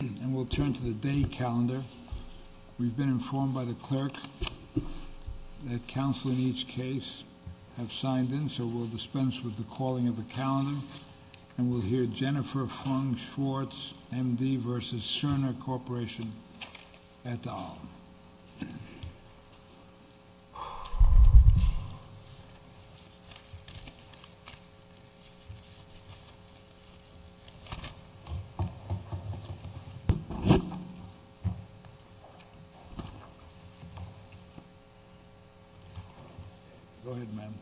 And we'll turn to the day calendar. We've been informed by the clerk that counsel in each case have signed in, so we'll dispense with the calling of the calendar and we'll hear Jennifer Fung-Schwartz, MD v. Cerner Corporation et al. Go ahead ma'am.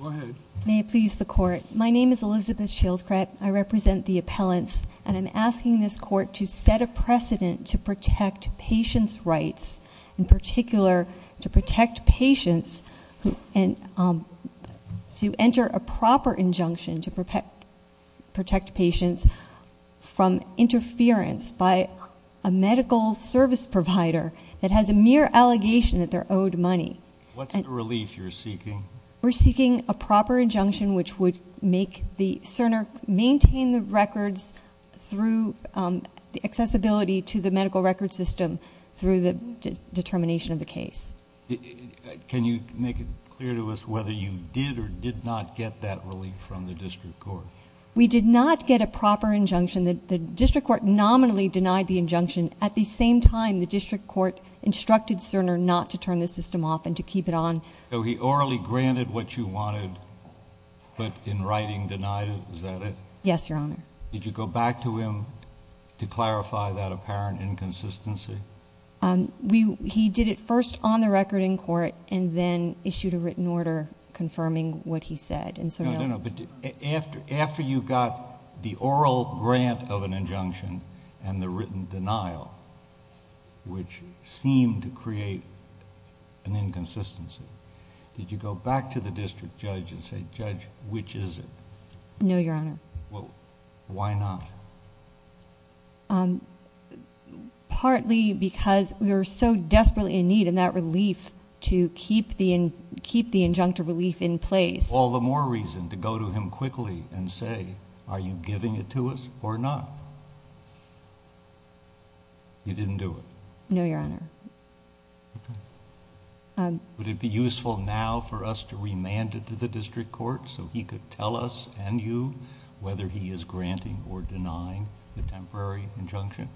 Go ahead. May it please the court. My name is Elizabeth Shieldcret. I represent the appellants and I'm asking this court to set a precedent to protect patients' rights, in particular to protect patients and to enter a proper injunction to protect patients from interference by a medical service provider that has a mere allegation that they're owed money. What's the relief you're seeking? We're seeking a proper injunction which would make the Cerner maintain the records through the accessibility to the medical record system through the determination of the case. Can you make it clear to us whether you did or did not get that relief from the district court? We did not get a proper injunction. The district court nominally denied the injunction. At the same time, the district court instructed Cerner not to turn the system off and to keep it on. So he orally granted what you wanted but in writing denied it. Is that it? Yes, your honor. Did you go back to him to clarify that apparent inconsistency? He did it first on the record in court and then issued a written order confirming what he said. No, no, no. After you got the oral grant of an injunction and the written denial which seemed to create an inconsistency, did you go back to the district judge and say, Judge, which is it? No, your honor. Why not? Partly because we were so desperately in need of that relief to keep the injunctive relief in place. All the more reason to go to him quickly and say, are you giving it to us or not? You didn't do it? No, your honor. Would it be useful now for us to remand it to the district court so he could tell us and you whether he is denying the temporary injunction?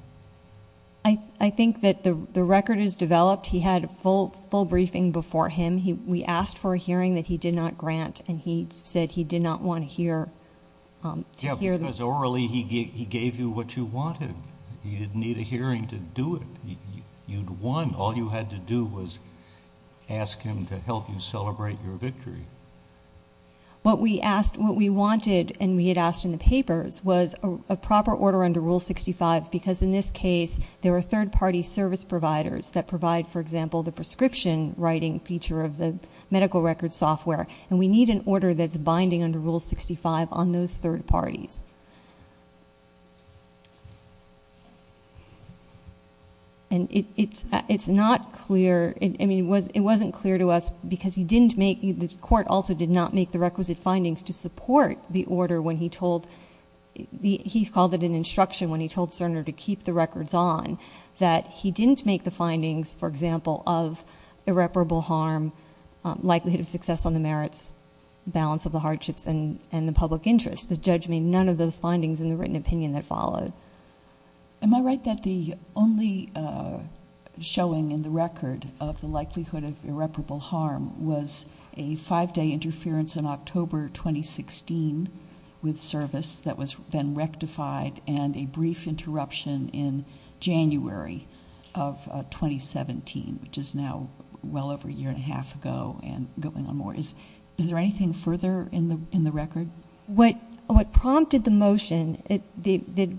I think that the record is developed. He had a full briefing before him. We asked for a hearing that he did not grant and he said he did not want to hear. Yes, because orally he gave you what you wanted. You didn't need a hearing to do it. You'd won. All you had to do was ask him to help you celebrate your victory. What we asked, what we wanted and we had asked in the papers was a proper order under Rule 65 because in this case there were third party service providers that provide, for example, the prescription writing feature of the medical record software and we need an order that's binding under Rule 65 on those third parties. And it's not clear, I mean the court also did not make the requisite findings to support the order when he told, he called it an instruction when he told Cerner to keep the records on, that he didn't make the findings, for example, of irreparable harm, likelihood of success on the merits, balance of the hardships and the public interest. The judge made none of those findings in the written opinion that followed. Am I right that the only showing in the record of the likelihood of irreparable harm was a five day interference in October 2016 with service that was then rectified and a brief interruption in January of 2017, which is now well over a year and a half ago and going on more. Is there anything further in the record? What prompted the motion, the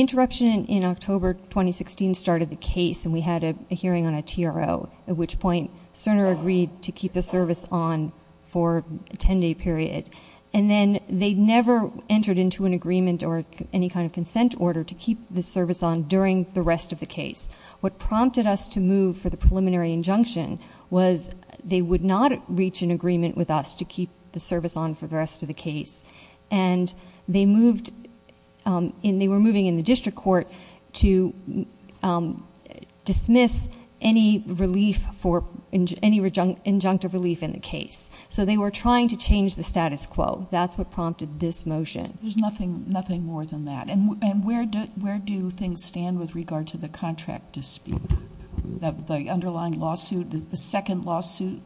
interruption in October 2016 started the case and we had a hearing on a TRO at which point Cerner agreed to keep the service on for a ten day period and then they never entered into an agreement or any kind of consent order to keep the service on during the rest of the case. What prompted us to move for the preliminary injunction was they would not reach an agreement with us to keep the service on for the rest of the case and they were moving in the district court to dismiss any injunctive relief in the case. They were trying to change the status quo. That's what prompted this motion. There's nothing more than that. Where do things stand with regard to the contract dispute? The underlying lawsuit, the second lawsuit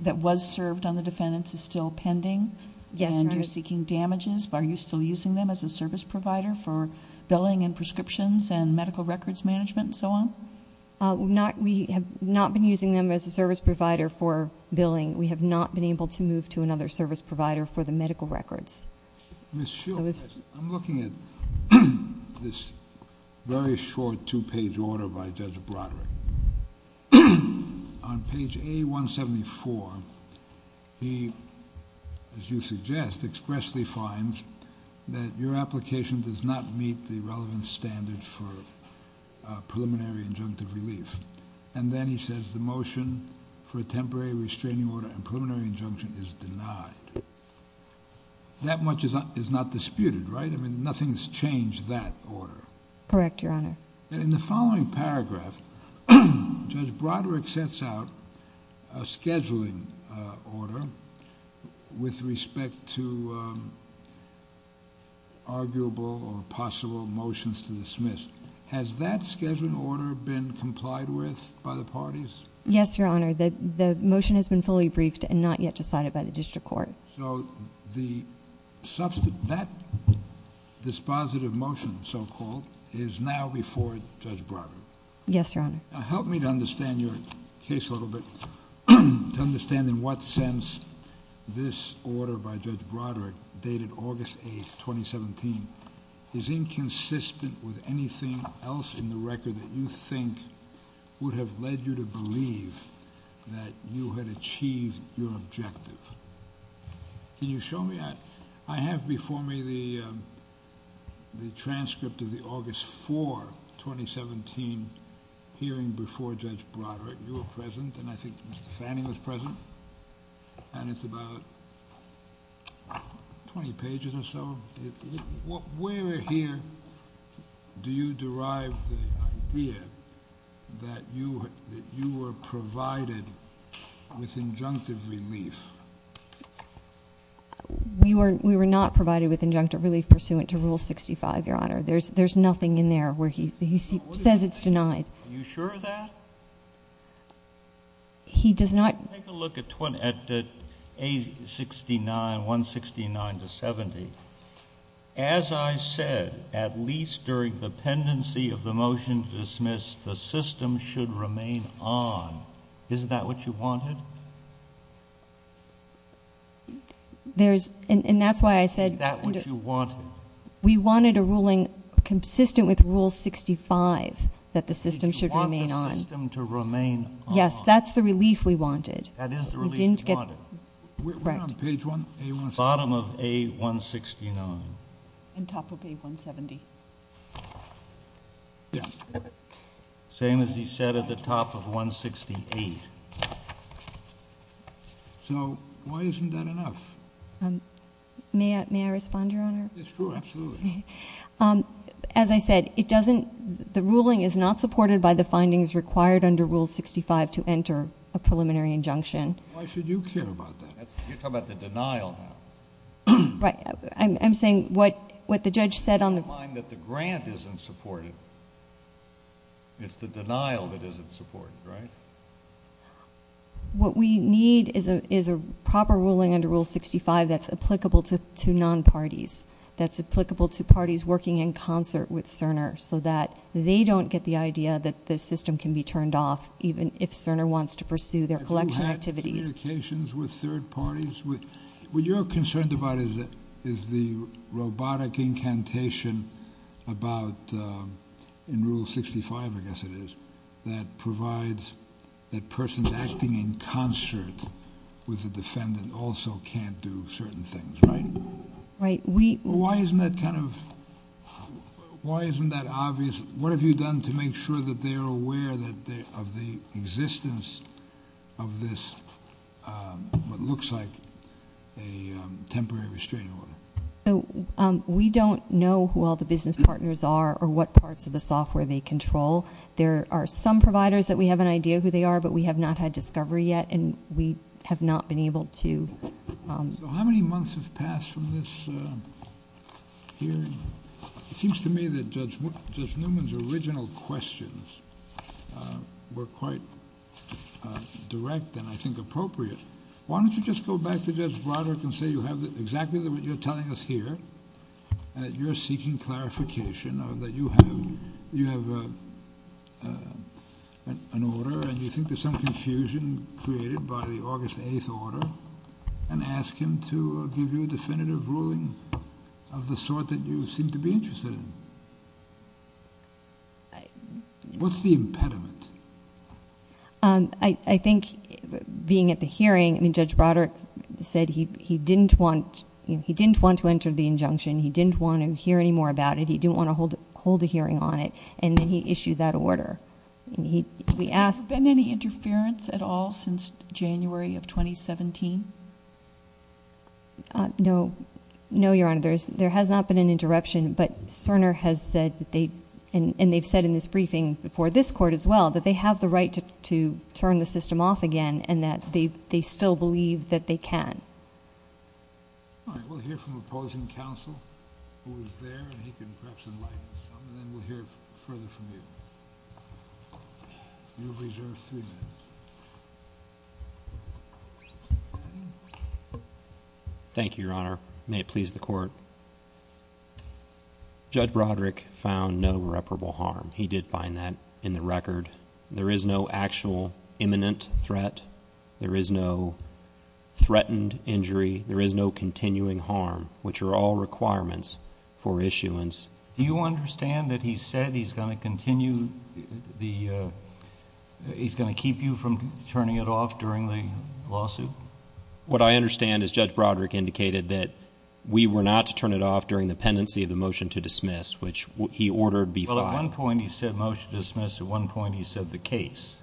that was served on the defendants is still pending? And you're seeking damages? Are you still using them as a service provider for billing and prescriptions and medical records management and so on? We have not been using them as a service provider for billing. We have not been able to move to another service provider for the medical records. Ms. Shields, I'm looking at this very short two page order by Judge Broderick. On page A174, he, as you suggest, expressly finds that your application does not meet the relevant standards for preliminary injunctive relief. And then he says the motion for a temporary restraining order and preliminary injunction is denied. That much is not disputed, right? I mean, nothing's changed that order. Correct, Your Honor. In the following paragraph, Judge Broderick sets out a scheduling order with respect to arguable or possible motions to dismiss. Has that scheduling order been complied with by the parties? Yes, Your Honor. The motion has been fully briefed and not yet decided by the district court. So that dispositive motion, so-called, is now before Judge Broderick? Yes, Your Honor. Now help me to understand your case a little bit, to understand in what sense this order by Judge Broderick, dated August 8, 2017, is inconsistent with anything else in the record that you think would have led you to believe that you had achieved your objective. Can you show me? I have before me the transcript of the August 4, 2017, hearing before Judge Broderick. You were present, and I think Mr. Fanning was present, and it's about 20 pages or so. Where here do you derive the idea that you were provided with injunctive relief? We were not provided with injunctive relief pursuant to Rule 65, Your Honor. There's nothing in there where he says it's denied. Are you sure of that? He does not... Take a look at A69, 169 to 70. As I said, at least during the pendency of the motion to dismiss, the system should remain on. Isn't that what you wanted? There's... And that's why I said... Is that what you wanted? We wanted a ruling consistent with Rule 65 that the system should remain on. You want the system to remain on. Yes, that's the relief we wanted. That is the relief you wanted. We didn't get... We're on page 169. Bottom of A169. And top of A170. Same as he said at the top of 168. So why isn't that enough? May I respond, Your Honor? It's true, absolutely. As I said, it doesn't... The ruling is not supported by the findings required under Rule 65 to enter a preliminary injunction. Why should you care about that? You're talking about the denial now. Right. I'm saying what the judge said on the... Keep in mind that the grant isn't supported. It's the denial that isn't supported, right? What we need is a proper ruling under Rule 65 that's applicable to non-parties, that's applicable to parties working in concert with Cerner so that they don't get the idea that the system can be turned off even if Cerner wants to pursue their collection activities. Communications with third parties? What you're concerned about is the robotic incantation about... In Rule 65, I guess it is, that provides that persons acting in concert with the defendant also can't do certain things, right? Right. We... Why isn't that kind of... Why isn't that obvious? What have you done to make sure that they are aware of the existence of this, what looks like a temporary restraining order? We don't know who all the business partners are or what parts of the software they control. There are some providers that we have an idea who they are, but we have not had discovery yet, and we have not been able to... How many months have passed from this hearing? It seems to me that Judge Newman's original questions were quite direct and, I think, appropriate. Why don't you just go back to Judge Broderick and say you have exactly what you're telling us here, that you're seeking clarification, or that you have an order and you think there's some confusion created by the August 8th order, and ask him to give you a definitive ruling of the sort that you seem to be interested in? What's the impediment? I think, being at the hearing, Judge Broderick said he didn't want to enter the injunction, he didn't want to hear any more about it, he didn't want to hold a hearing on it, and then he issued that order. We asked... Has there been any interference at all since January of 2017? No, Your Honor. There has not been an interruption, but Cerner has said, and they've said in this briefing before this Court as well, that they have the right to turn the system off again, and that they still believe that they can. All right. We'll hear from opposing counsel, who was there, and he can perhaps enlighten us, and then we'll hear further from you. You have reserved three minutes. Thank you, Your Honor. May it please the Court. Judge Broderick found no reparable harm. He did find that in the record. There is no actual imminent threat, there is no threatened injury, there is no continuing harm, which are all requirements for issuance. Do you understand that he said he's going to continue, he's going to keep you from turning it off during the lawsuit? What I understand is Judge Broderick indicated that we were not to turn it off during the pendency of the motion to dismiss, which he ordered be filed. Well, at one point he said motion to dismiss, at one point he said the case,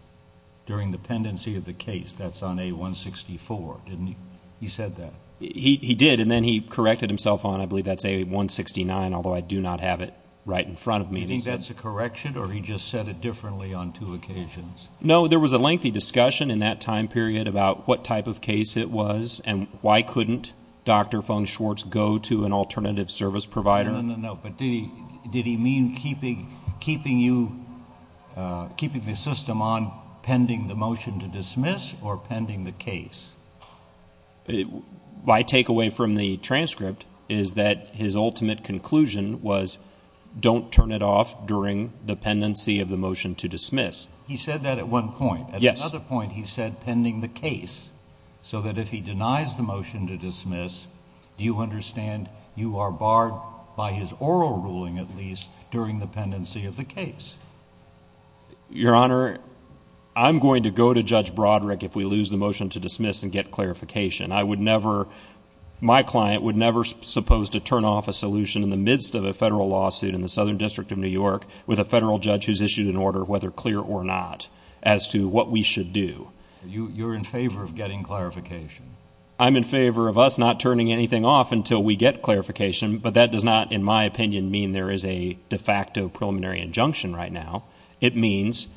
during the pendency of the case. That's on A-164, didn't he? He said that. He did, and then he corrected himself on, I believe that's A-169, although I do not have it right in front of me. Do you think that's a correction, or he just said it differently on two occasions? No, there was a lengthy discussion in that time period about what type of case it was, and why couldn't Dr. Fung-Schwartz go to an alternative service provider? No, no, no, but did he mean keeping you, keeping the system on pending the motion to dismiss, or pending the case? My takeaway from the transcript is that his ultimate conclusion was don't turn it off during the pendency of the motion to dismiss. He said that at one point. At another point, he said pending the case, so that if he denies the motion to dismiss, do you understand you are barred by his oral ruling, at least, during the pendency of the case? Your Honor, I'm going to go to Judge Broderick if we lose the motion to dismiss and get clarification. I would never, my client would never suppose to turn off a solution in the midst of a federal lawsuit in the Southern District of New York with a federal judge who's issued an order, whether clear or not, as to what we should do. You're in favor of getting clarification. I'm in favor of us not turning anything off until we get clarification, but that does not, in my opinion, mean there is a de facto preliminary injunction right now. It means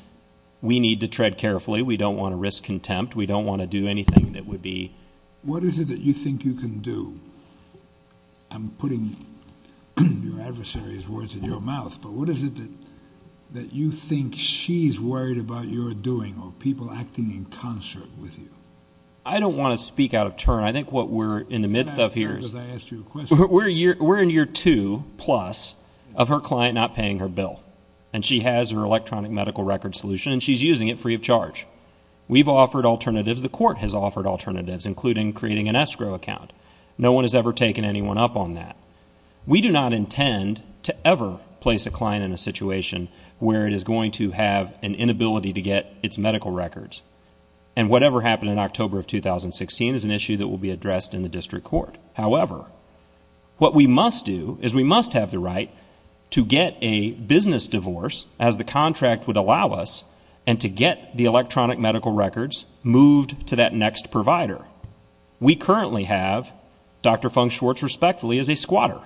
we need to tread carefully. We don't want to risk contempt. We don't want to do anything that would be... What is it that you think you can do? I'm putting your adversary's words in your mouth, but what is it that you think she's worried about your doing or people acting in concert with you? I don't want to speak out of turn. I think what we're in the midst of here is... Can I ask you a question? We're in year two plus of her client not paying her bill, and she has her electronic medical record solution, and she's using it free of charge. We've offered alternatives, the court has offered alternatives, including creating an escrow account. No one has ever placed a client in a situation where it is going to have an inability to get its medical records, and whatever happened in October of 2016 is an issue that will be addressed in the district court. However, what we must do is we must have the right to get a business divorce, as the contract would allow us, and to get the electronic medical records moved to that next provider. We currently have Dr. Fung-Schwartz, respectfully, as a squatter.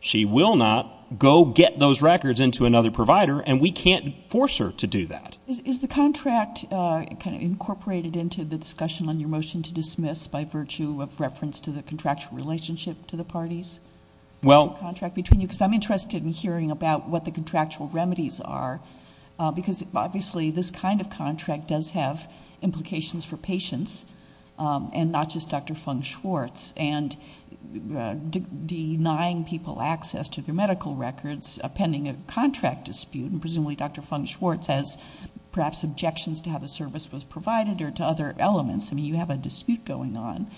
She will not go get those records into another provider, and we can't force her to do that. Is the contract kind of incorporated into the discussion on your motion to dismiss by virtue of reference to the contractual relationship to the parties? Well... The contract between you, because I'm interested in hearing about what the contractual remedies are, because obviously this kind of contract does have implications for patients, and not just Dr. Fung-Schwartz, and denying people access to their medical records, pending a contract dispute, and presumably Dr. Fung-Schwartz has perhaps objections to how the service was provided, or to other elements. I mean, you have a dispute going on.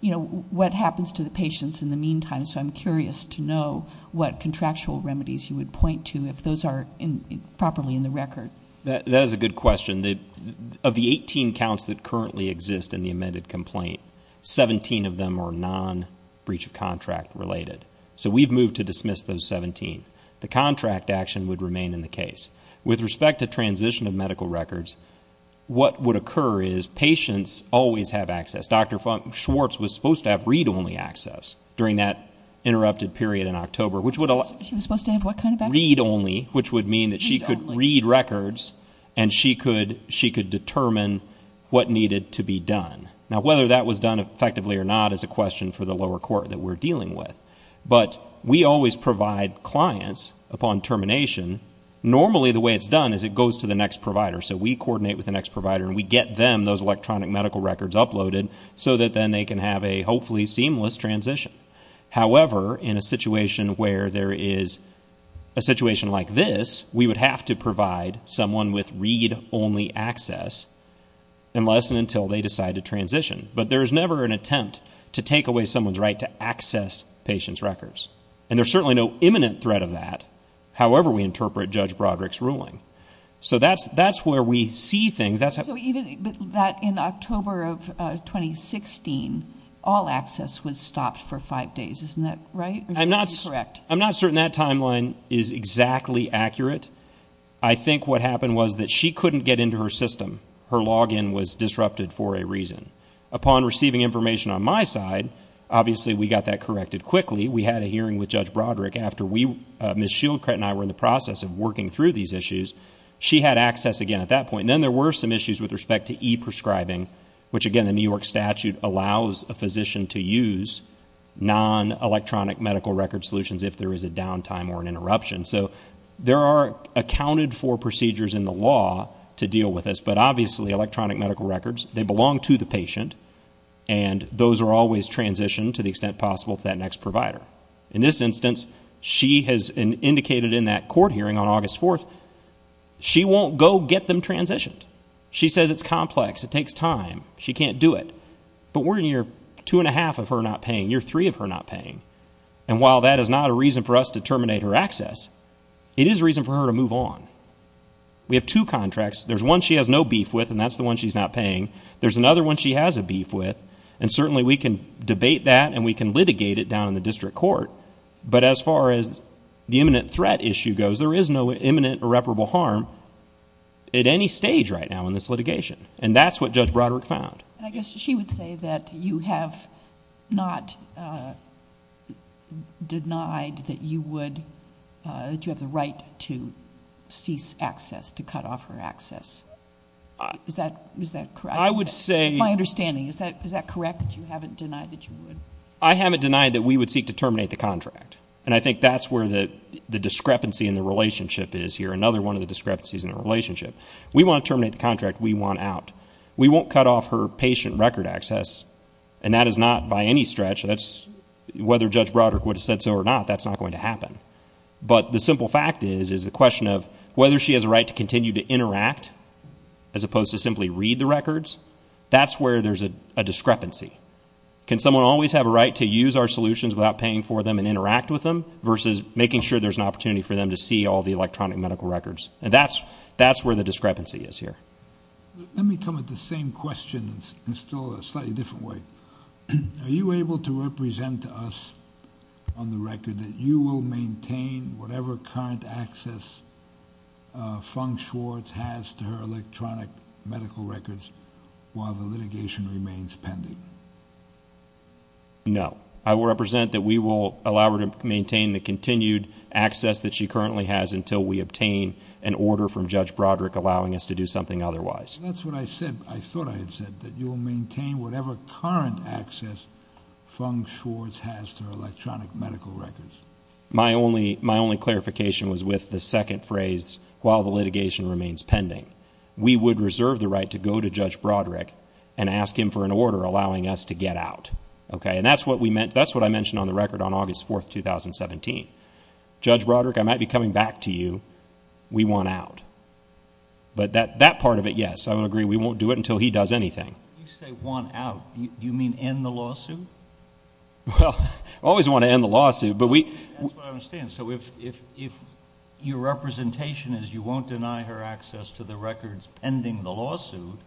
You know, what happens to the patients in the meantime, so I'm curious to know what those are properly in the record. That is a good question. Of the 18 counts that currently exist in the amended complaint, 17 of them are non-breach of contract related. So we've moved to dismiss those 17. The contract action would remain in the case. With respect to transition of medical records, what would occur is patients always have access. Dr. Fung-Schwartz was supposed to have read-only access during that interrupted period in October, which would allow... She was supposed to have what kind of access? Read-only, which would mean that she could read records, and she could determine what needed to be done. Now, whether that was done effectively or not is a question for the lower court that we're dealing with. But we always provide clients, upon termination, normally the way it's done is it goes to the next provider. So we coordinate with the next provider, and we get them those electronic medical records uploaded, so that then they can have a, hopefully, seamless transition. However, in a situation where there is a situation like this, we would have to provide someone with read-only access, unless and until they decide to transition. But there's never an attempt to take away someone's right to access patients' records. And there's certainly no imminent threat of that, however we interpret Judge Broderick's ruling. So that's where we see things. But in October of 2016, all access was stopped for five days. Isn't that right? I'm not certain that timeline is exactly accurate. I think what happened was that she couldn't get into her system. Her login was disrupted for a reason. Upon receiving information on my side, obviously, we got that corrected quickly. We had a hearing with Judge Broderick after Ms. Shieldcret and I were in the process of working through these issues. She had access again at that point. Then there were some issues with respect to e-prescribing, which, again, the New York statute allows a physician to use non-electronic medical record solutions if there is a downtime or an interruption. So there are accounted for procedures in the law to deal with this. But obviously, electronic medical records, they belong to the patient. And those are always transitioned, to the extent possible, to that next provider. In this instance, she has indicated in that court hearing on August 4, she won't go get them transitioned. She says it's complex. It takes time. She can't do it. But we're in year two and a half of her not paying, year three of her not paying. And while that is not a reason for us to terminate her access, it is a reason for her to move on. We have two contracts. There's one she has no beef with, and that's the one she's not paying. There's another one she has a beef with. And certainly, we can debate that and we can litigate it down in the district court. But as far as the imminent threat issue goes, there is no imminent irreparable harm. At any stage right now in this litigation. And that's what Judge Broderick found. And I guess she would say that you have not denied that you would, that you have the right to cease access, to cut off her access. Is that correct? I would say... My understanding, is that correct? That you haven't denied that you would? I haven't denied that we would seek to terminate the contract. And I think that's where the discrepancy in the relationship is here. Another one of the discrepancies in the relationship. We want to terminate the contract. We want out. We won't cut off her patient record access. And that is not by any stretch, whether Judge Broderick would have said so or not, that's not going to happen. But the simple fact is, is the question of whether she has a right to continue to interact, as opposed to simply read the records. That's where there's a discrepancy. Can someone always have a right to use our solutions without paying for them and interact with them, versus making sure there's an opportunity for them to see all the electronic medical records. And that's where the discrepancy is here. Let me come at the same question in still a slightly different way. Are you able to represent to us on the record that you will maintain whatever current access Fung-Schwartz has to her electronic medical records while the litigation remains pending? No. I will represent that we will allow her to maintain the continued access that she currently has until we obtain an order from Judge Broderick allowing us to do something otherwise. That's what I said. I thought I had said that you will maintain whatever current access Fung-Schwartz has to her electronic medical records. My only clarification was with the second phrase, while the litigation remains pending, we would reserve the right to go to Judge Broderick and ask him for an order allowing us to get out. OK, and that's what we meant. That's what I mentioned on the record on August 4th, 2017. Judge Broderick, I might be coming back to you. We want out. But that part of it, yes, I would agree. We won't do it until he does anything. You say want out. You mean end the lawsuit? Well, I always want to end the lawsuit. That's what I understand. So if your representation is you won't deny her access to the records pending the lawsuit,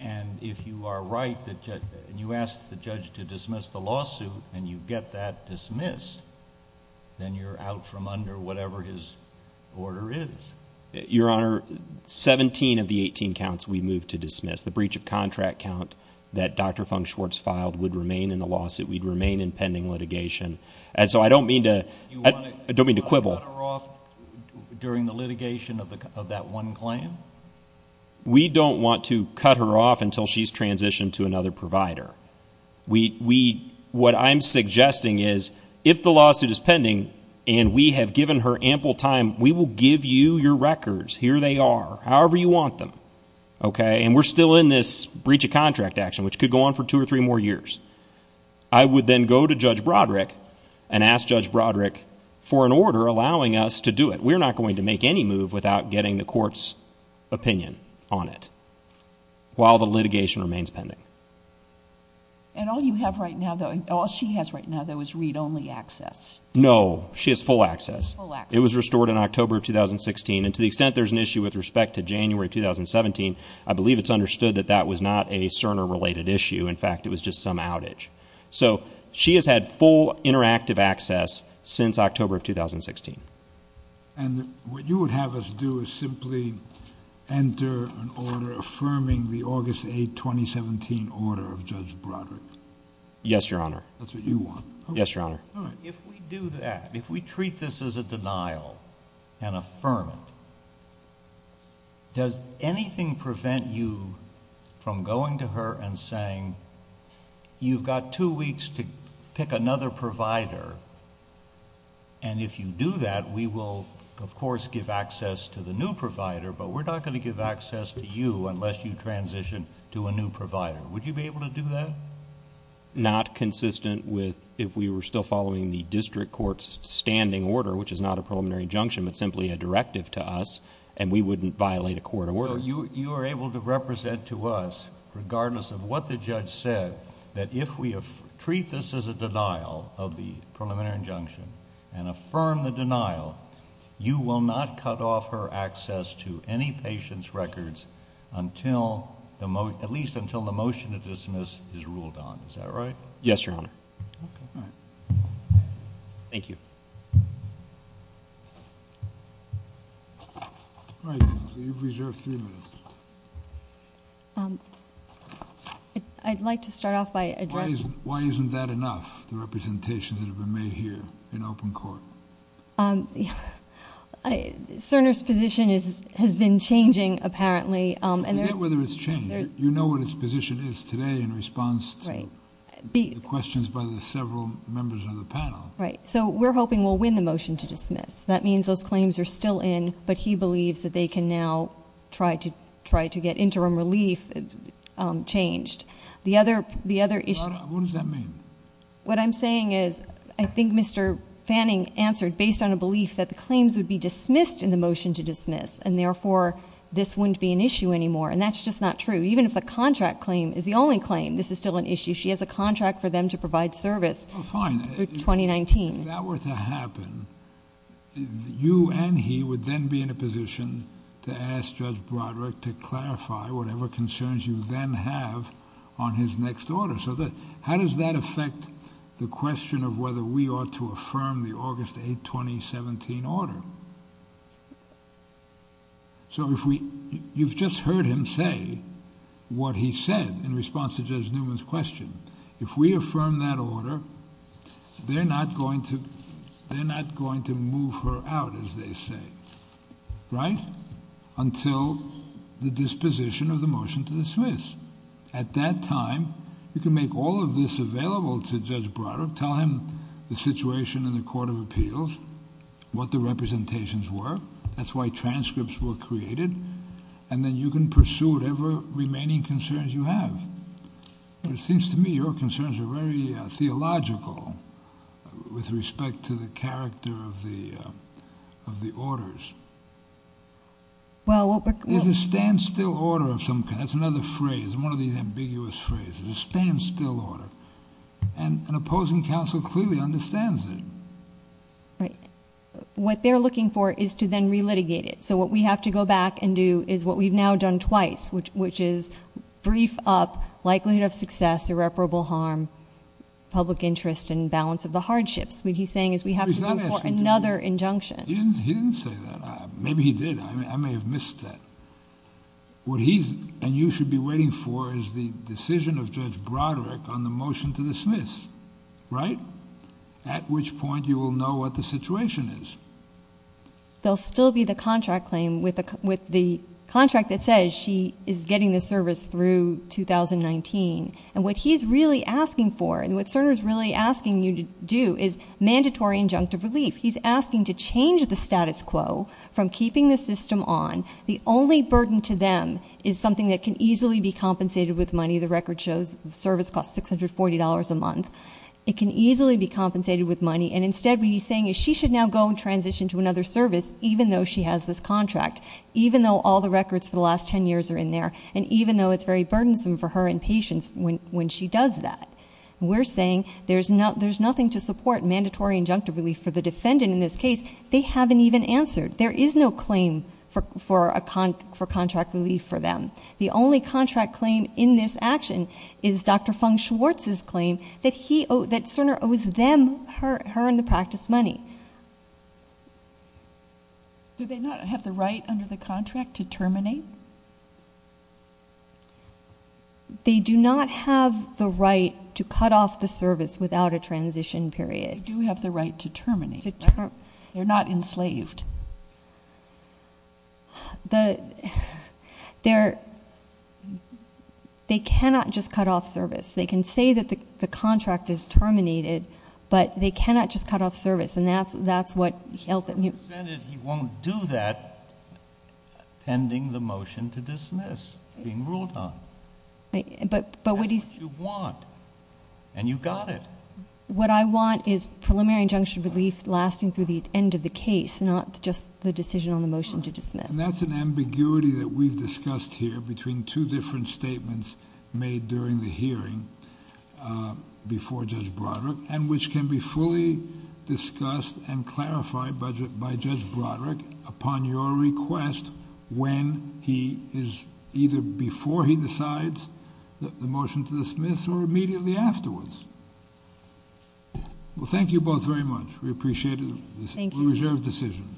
and if you are right and you ask the judge to dismiss the lawsuit and you get that dismissed, then you're out from under whatever his order is. Your Honor, 17 of the 18 counts we moved to dismiss. The breach of contract count that Dr. Fung-Schwartz filed would remain in the lawsuit. We'd remain in pending litigation. And so I don't mean to quibble. You want to cut her off during the litigation of that one claim? We don't want to cut her off until she's transitioned to another provider. We, we, what I'm suggesting is if the lawsuit is pending and we have given her ample time, we will give you your records. Here they are, however you want them. Okay. And we're still in this breach of contract action, which could go on for two or three more years. I would then go to Judge Broderick and ask Judge Broderick for an order allowing us to do it. We're not going to make any move without getting the court's opinion on it while the litigation remains pending. And all you have right now, though, all she has right now, though, is read-only access. No, she has full access. Full access. It was restored in October of 2016. And to the extent there's an issue with respect to January of 2017, I believe it's understood that that was not a Cerner-related issue. In fact, it was just some outage. So she has had full interactive access since October of 2016. And what you would have us do is simply enter an order affirming the August 8, 2017 order of Judge Broderick. Yes, Your Honor. That's what you want. Yes, Your Honor. All right. If we do that, if we treat this as a denial and affirm it, does anything prevent you from going to her and saying, you've got two weeks to pick another provider. And if you do that, we will, of course, give access to the new provider, but we're not going to give access to you unless you transition to a new provider. Would you be able to do that? Not consistent with if we were still following the district court's standing order, which is not a preliminary injunction, but simply a directive to us, and we wouldn't violate a court order. So you are able to represent to us, regardless of what the judge said, that if we treat this as a denial of the preliminary injunction and affirm the denial, you will not cut off her access to any patient's records at least until the motion to dismiss is ruled on. Is that right? Yes, Your Honor. Okay. All right. Thank you. All right, you've reserved three minutes. I'd like to start off by addressing- Why isn't that enough, the representations that have been made here in open court? Cerner's position has been changing, apparently, and- Forget whether it's changed. You know what his position is today in response to the questions by the several members of the panel. Right. So we're hoping we'll win the motion to dismiss. That means those claims are still in, but he believes that they can now try to get interim relief changed. The other issue- What does that mean? What I'm saying is, I think Mr. Fanning answered based on a belief that the claims would be dismissed in the motion to dismiss, and therefore, this wouldn't be an issue anymore. And that's just not true. Even if the contract claim is the only claim, this is still an issue. She has a contract for them to provide service for 2019. If that were to happen, you and he would then be in a position to ask Judge Broderick to clarify whatever concerns you then have on his next order. So how does that affect the question of whether we ought to affirm the August 8, 2017 order? So you've just heard him say what he said in response to Judge Newman's question. If we affirm that order, they're not going to move her out, as they say. Right? Until the disposition of the motion to dismiss. At that time, you can make all of this available to Judge Broderick. Tell him the situation in the Court of Appeals, what the representations were. That's why transcripts were created. And then you can pursue whatever remaining concerns you have. But it seems to me your concerns are very theological with respect to the character of the orders. Is a standstill order of some kind? That's another phrase, one of these ambiguous phrases. A standstill order. And an opposing counsel clearly understands it. Right. What they're looking for is to then re-litigate it. So what we have to go back and do is what we've now done twice, which is brief up likelihood of success, irreparable harm, public interest, and balance of the hardships. What he's saying is we have to go for another injunction. He didn't say that. Maybe he did. I may have missed that. What he's and you should be waiting for is the decision of Judge Broderick on the motion to dismiss. Right? At which point you will know what the situation is. There'll still be the contract claim with the contract that says she is getting the service through 2019. And what he's really asking for and what Cerner's really asking you to do is mandatory injunctive relief. He's asking to change the status quo from keeping the system on. The only burden to them is something that can easily be compensated with money. The record shows service costs $640 a month. It can easily be compensated with money. And instead, what he's saying is she should now go and transition to another service, even though she has this contract. Even though all the records for the last ten years are in there. And even though it's very burdensome for her and patients when she does that. We're saying there's nothing to support mandatory injunctive relief for the defendant in this case. They haven't even answered. There is no claim for contract relief for them. The only contract claim in this action is Dr. Fung-Schwartz's claim that Cerner owes them her in the practice money. Do they not have the right under the contract to terminate? They do not have the right to cut off the service without a transition period. They do have the right to terminate. They're not enslaved. They cannot just cut off service. They can say that the contract is terminated. But they cannot just cut off service. And that's what he held. He won't do that pending the motion to dismiss, being ruled on. But what he's- That's what you want. And you got it. What I want is preliminary injunction relief lasting through the end of the case, not just the decision on the motion to dismiss. That's an ambiguity that we've discussed here between two different statements made during the hearing before Judge Broderick, and which can be fully discussed and clarified by Judge Broderick upon your request when he is either before he decides the motion to dismiss or immediately afterwards. Well, thank you both very much. We appreciate it. Thank you. We reserve the decision.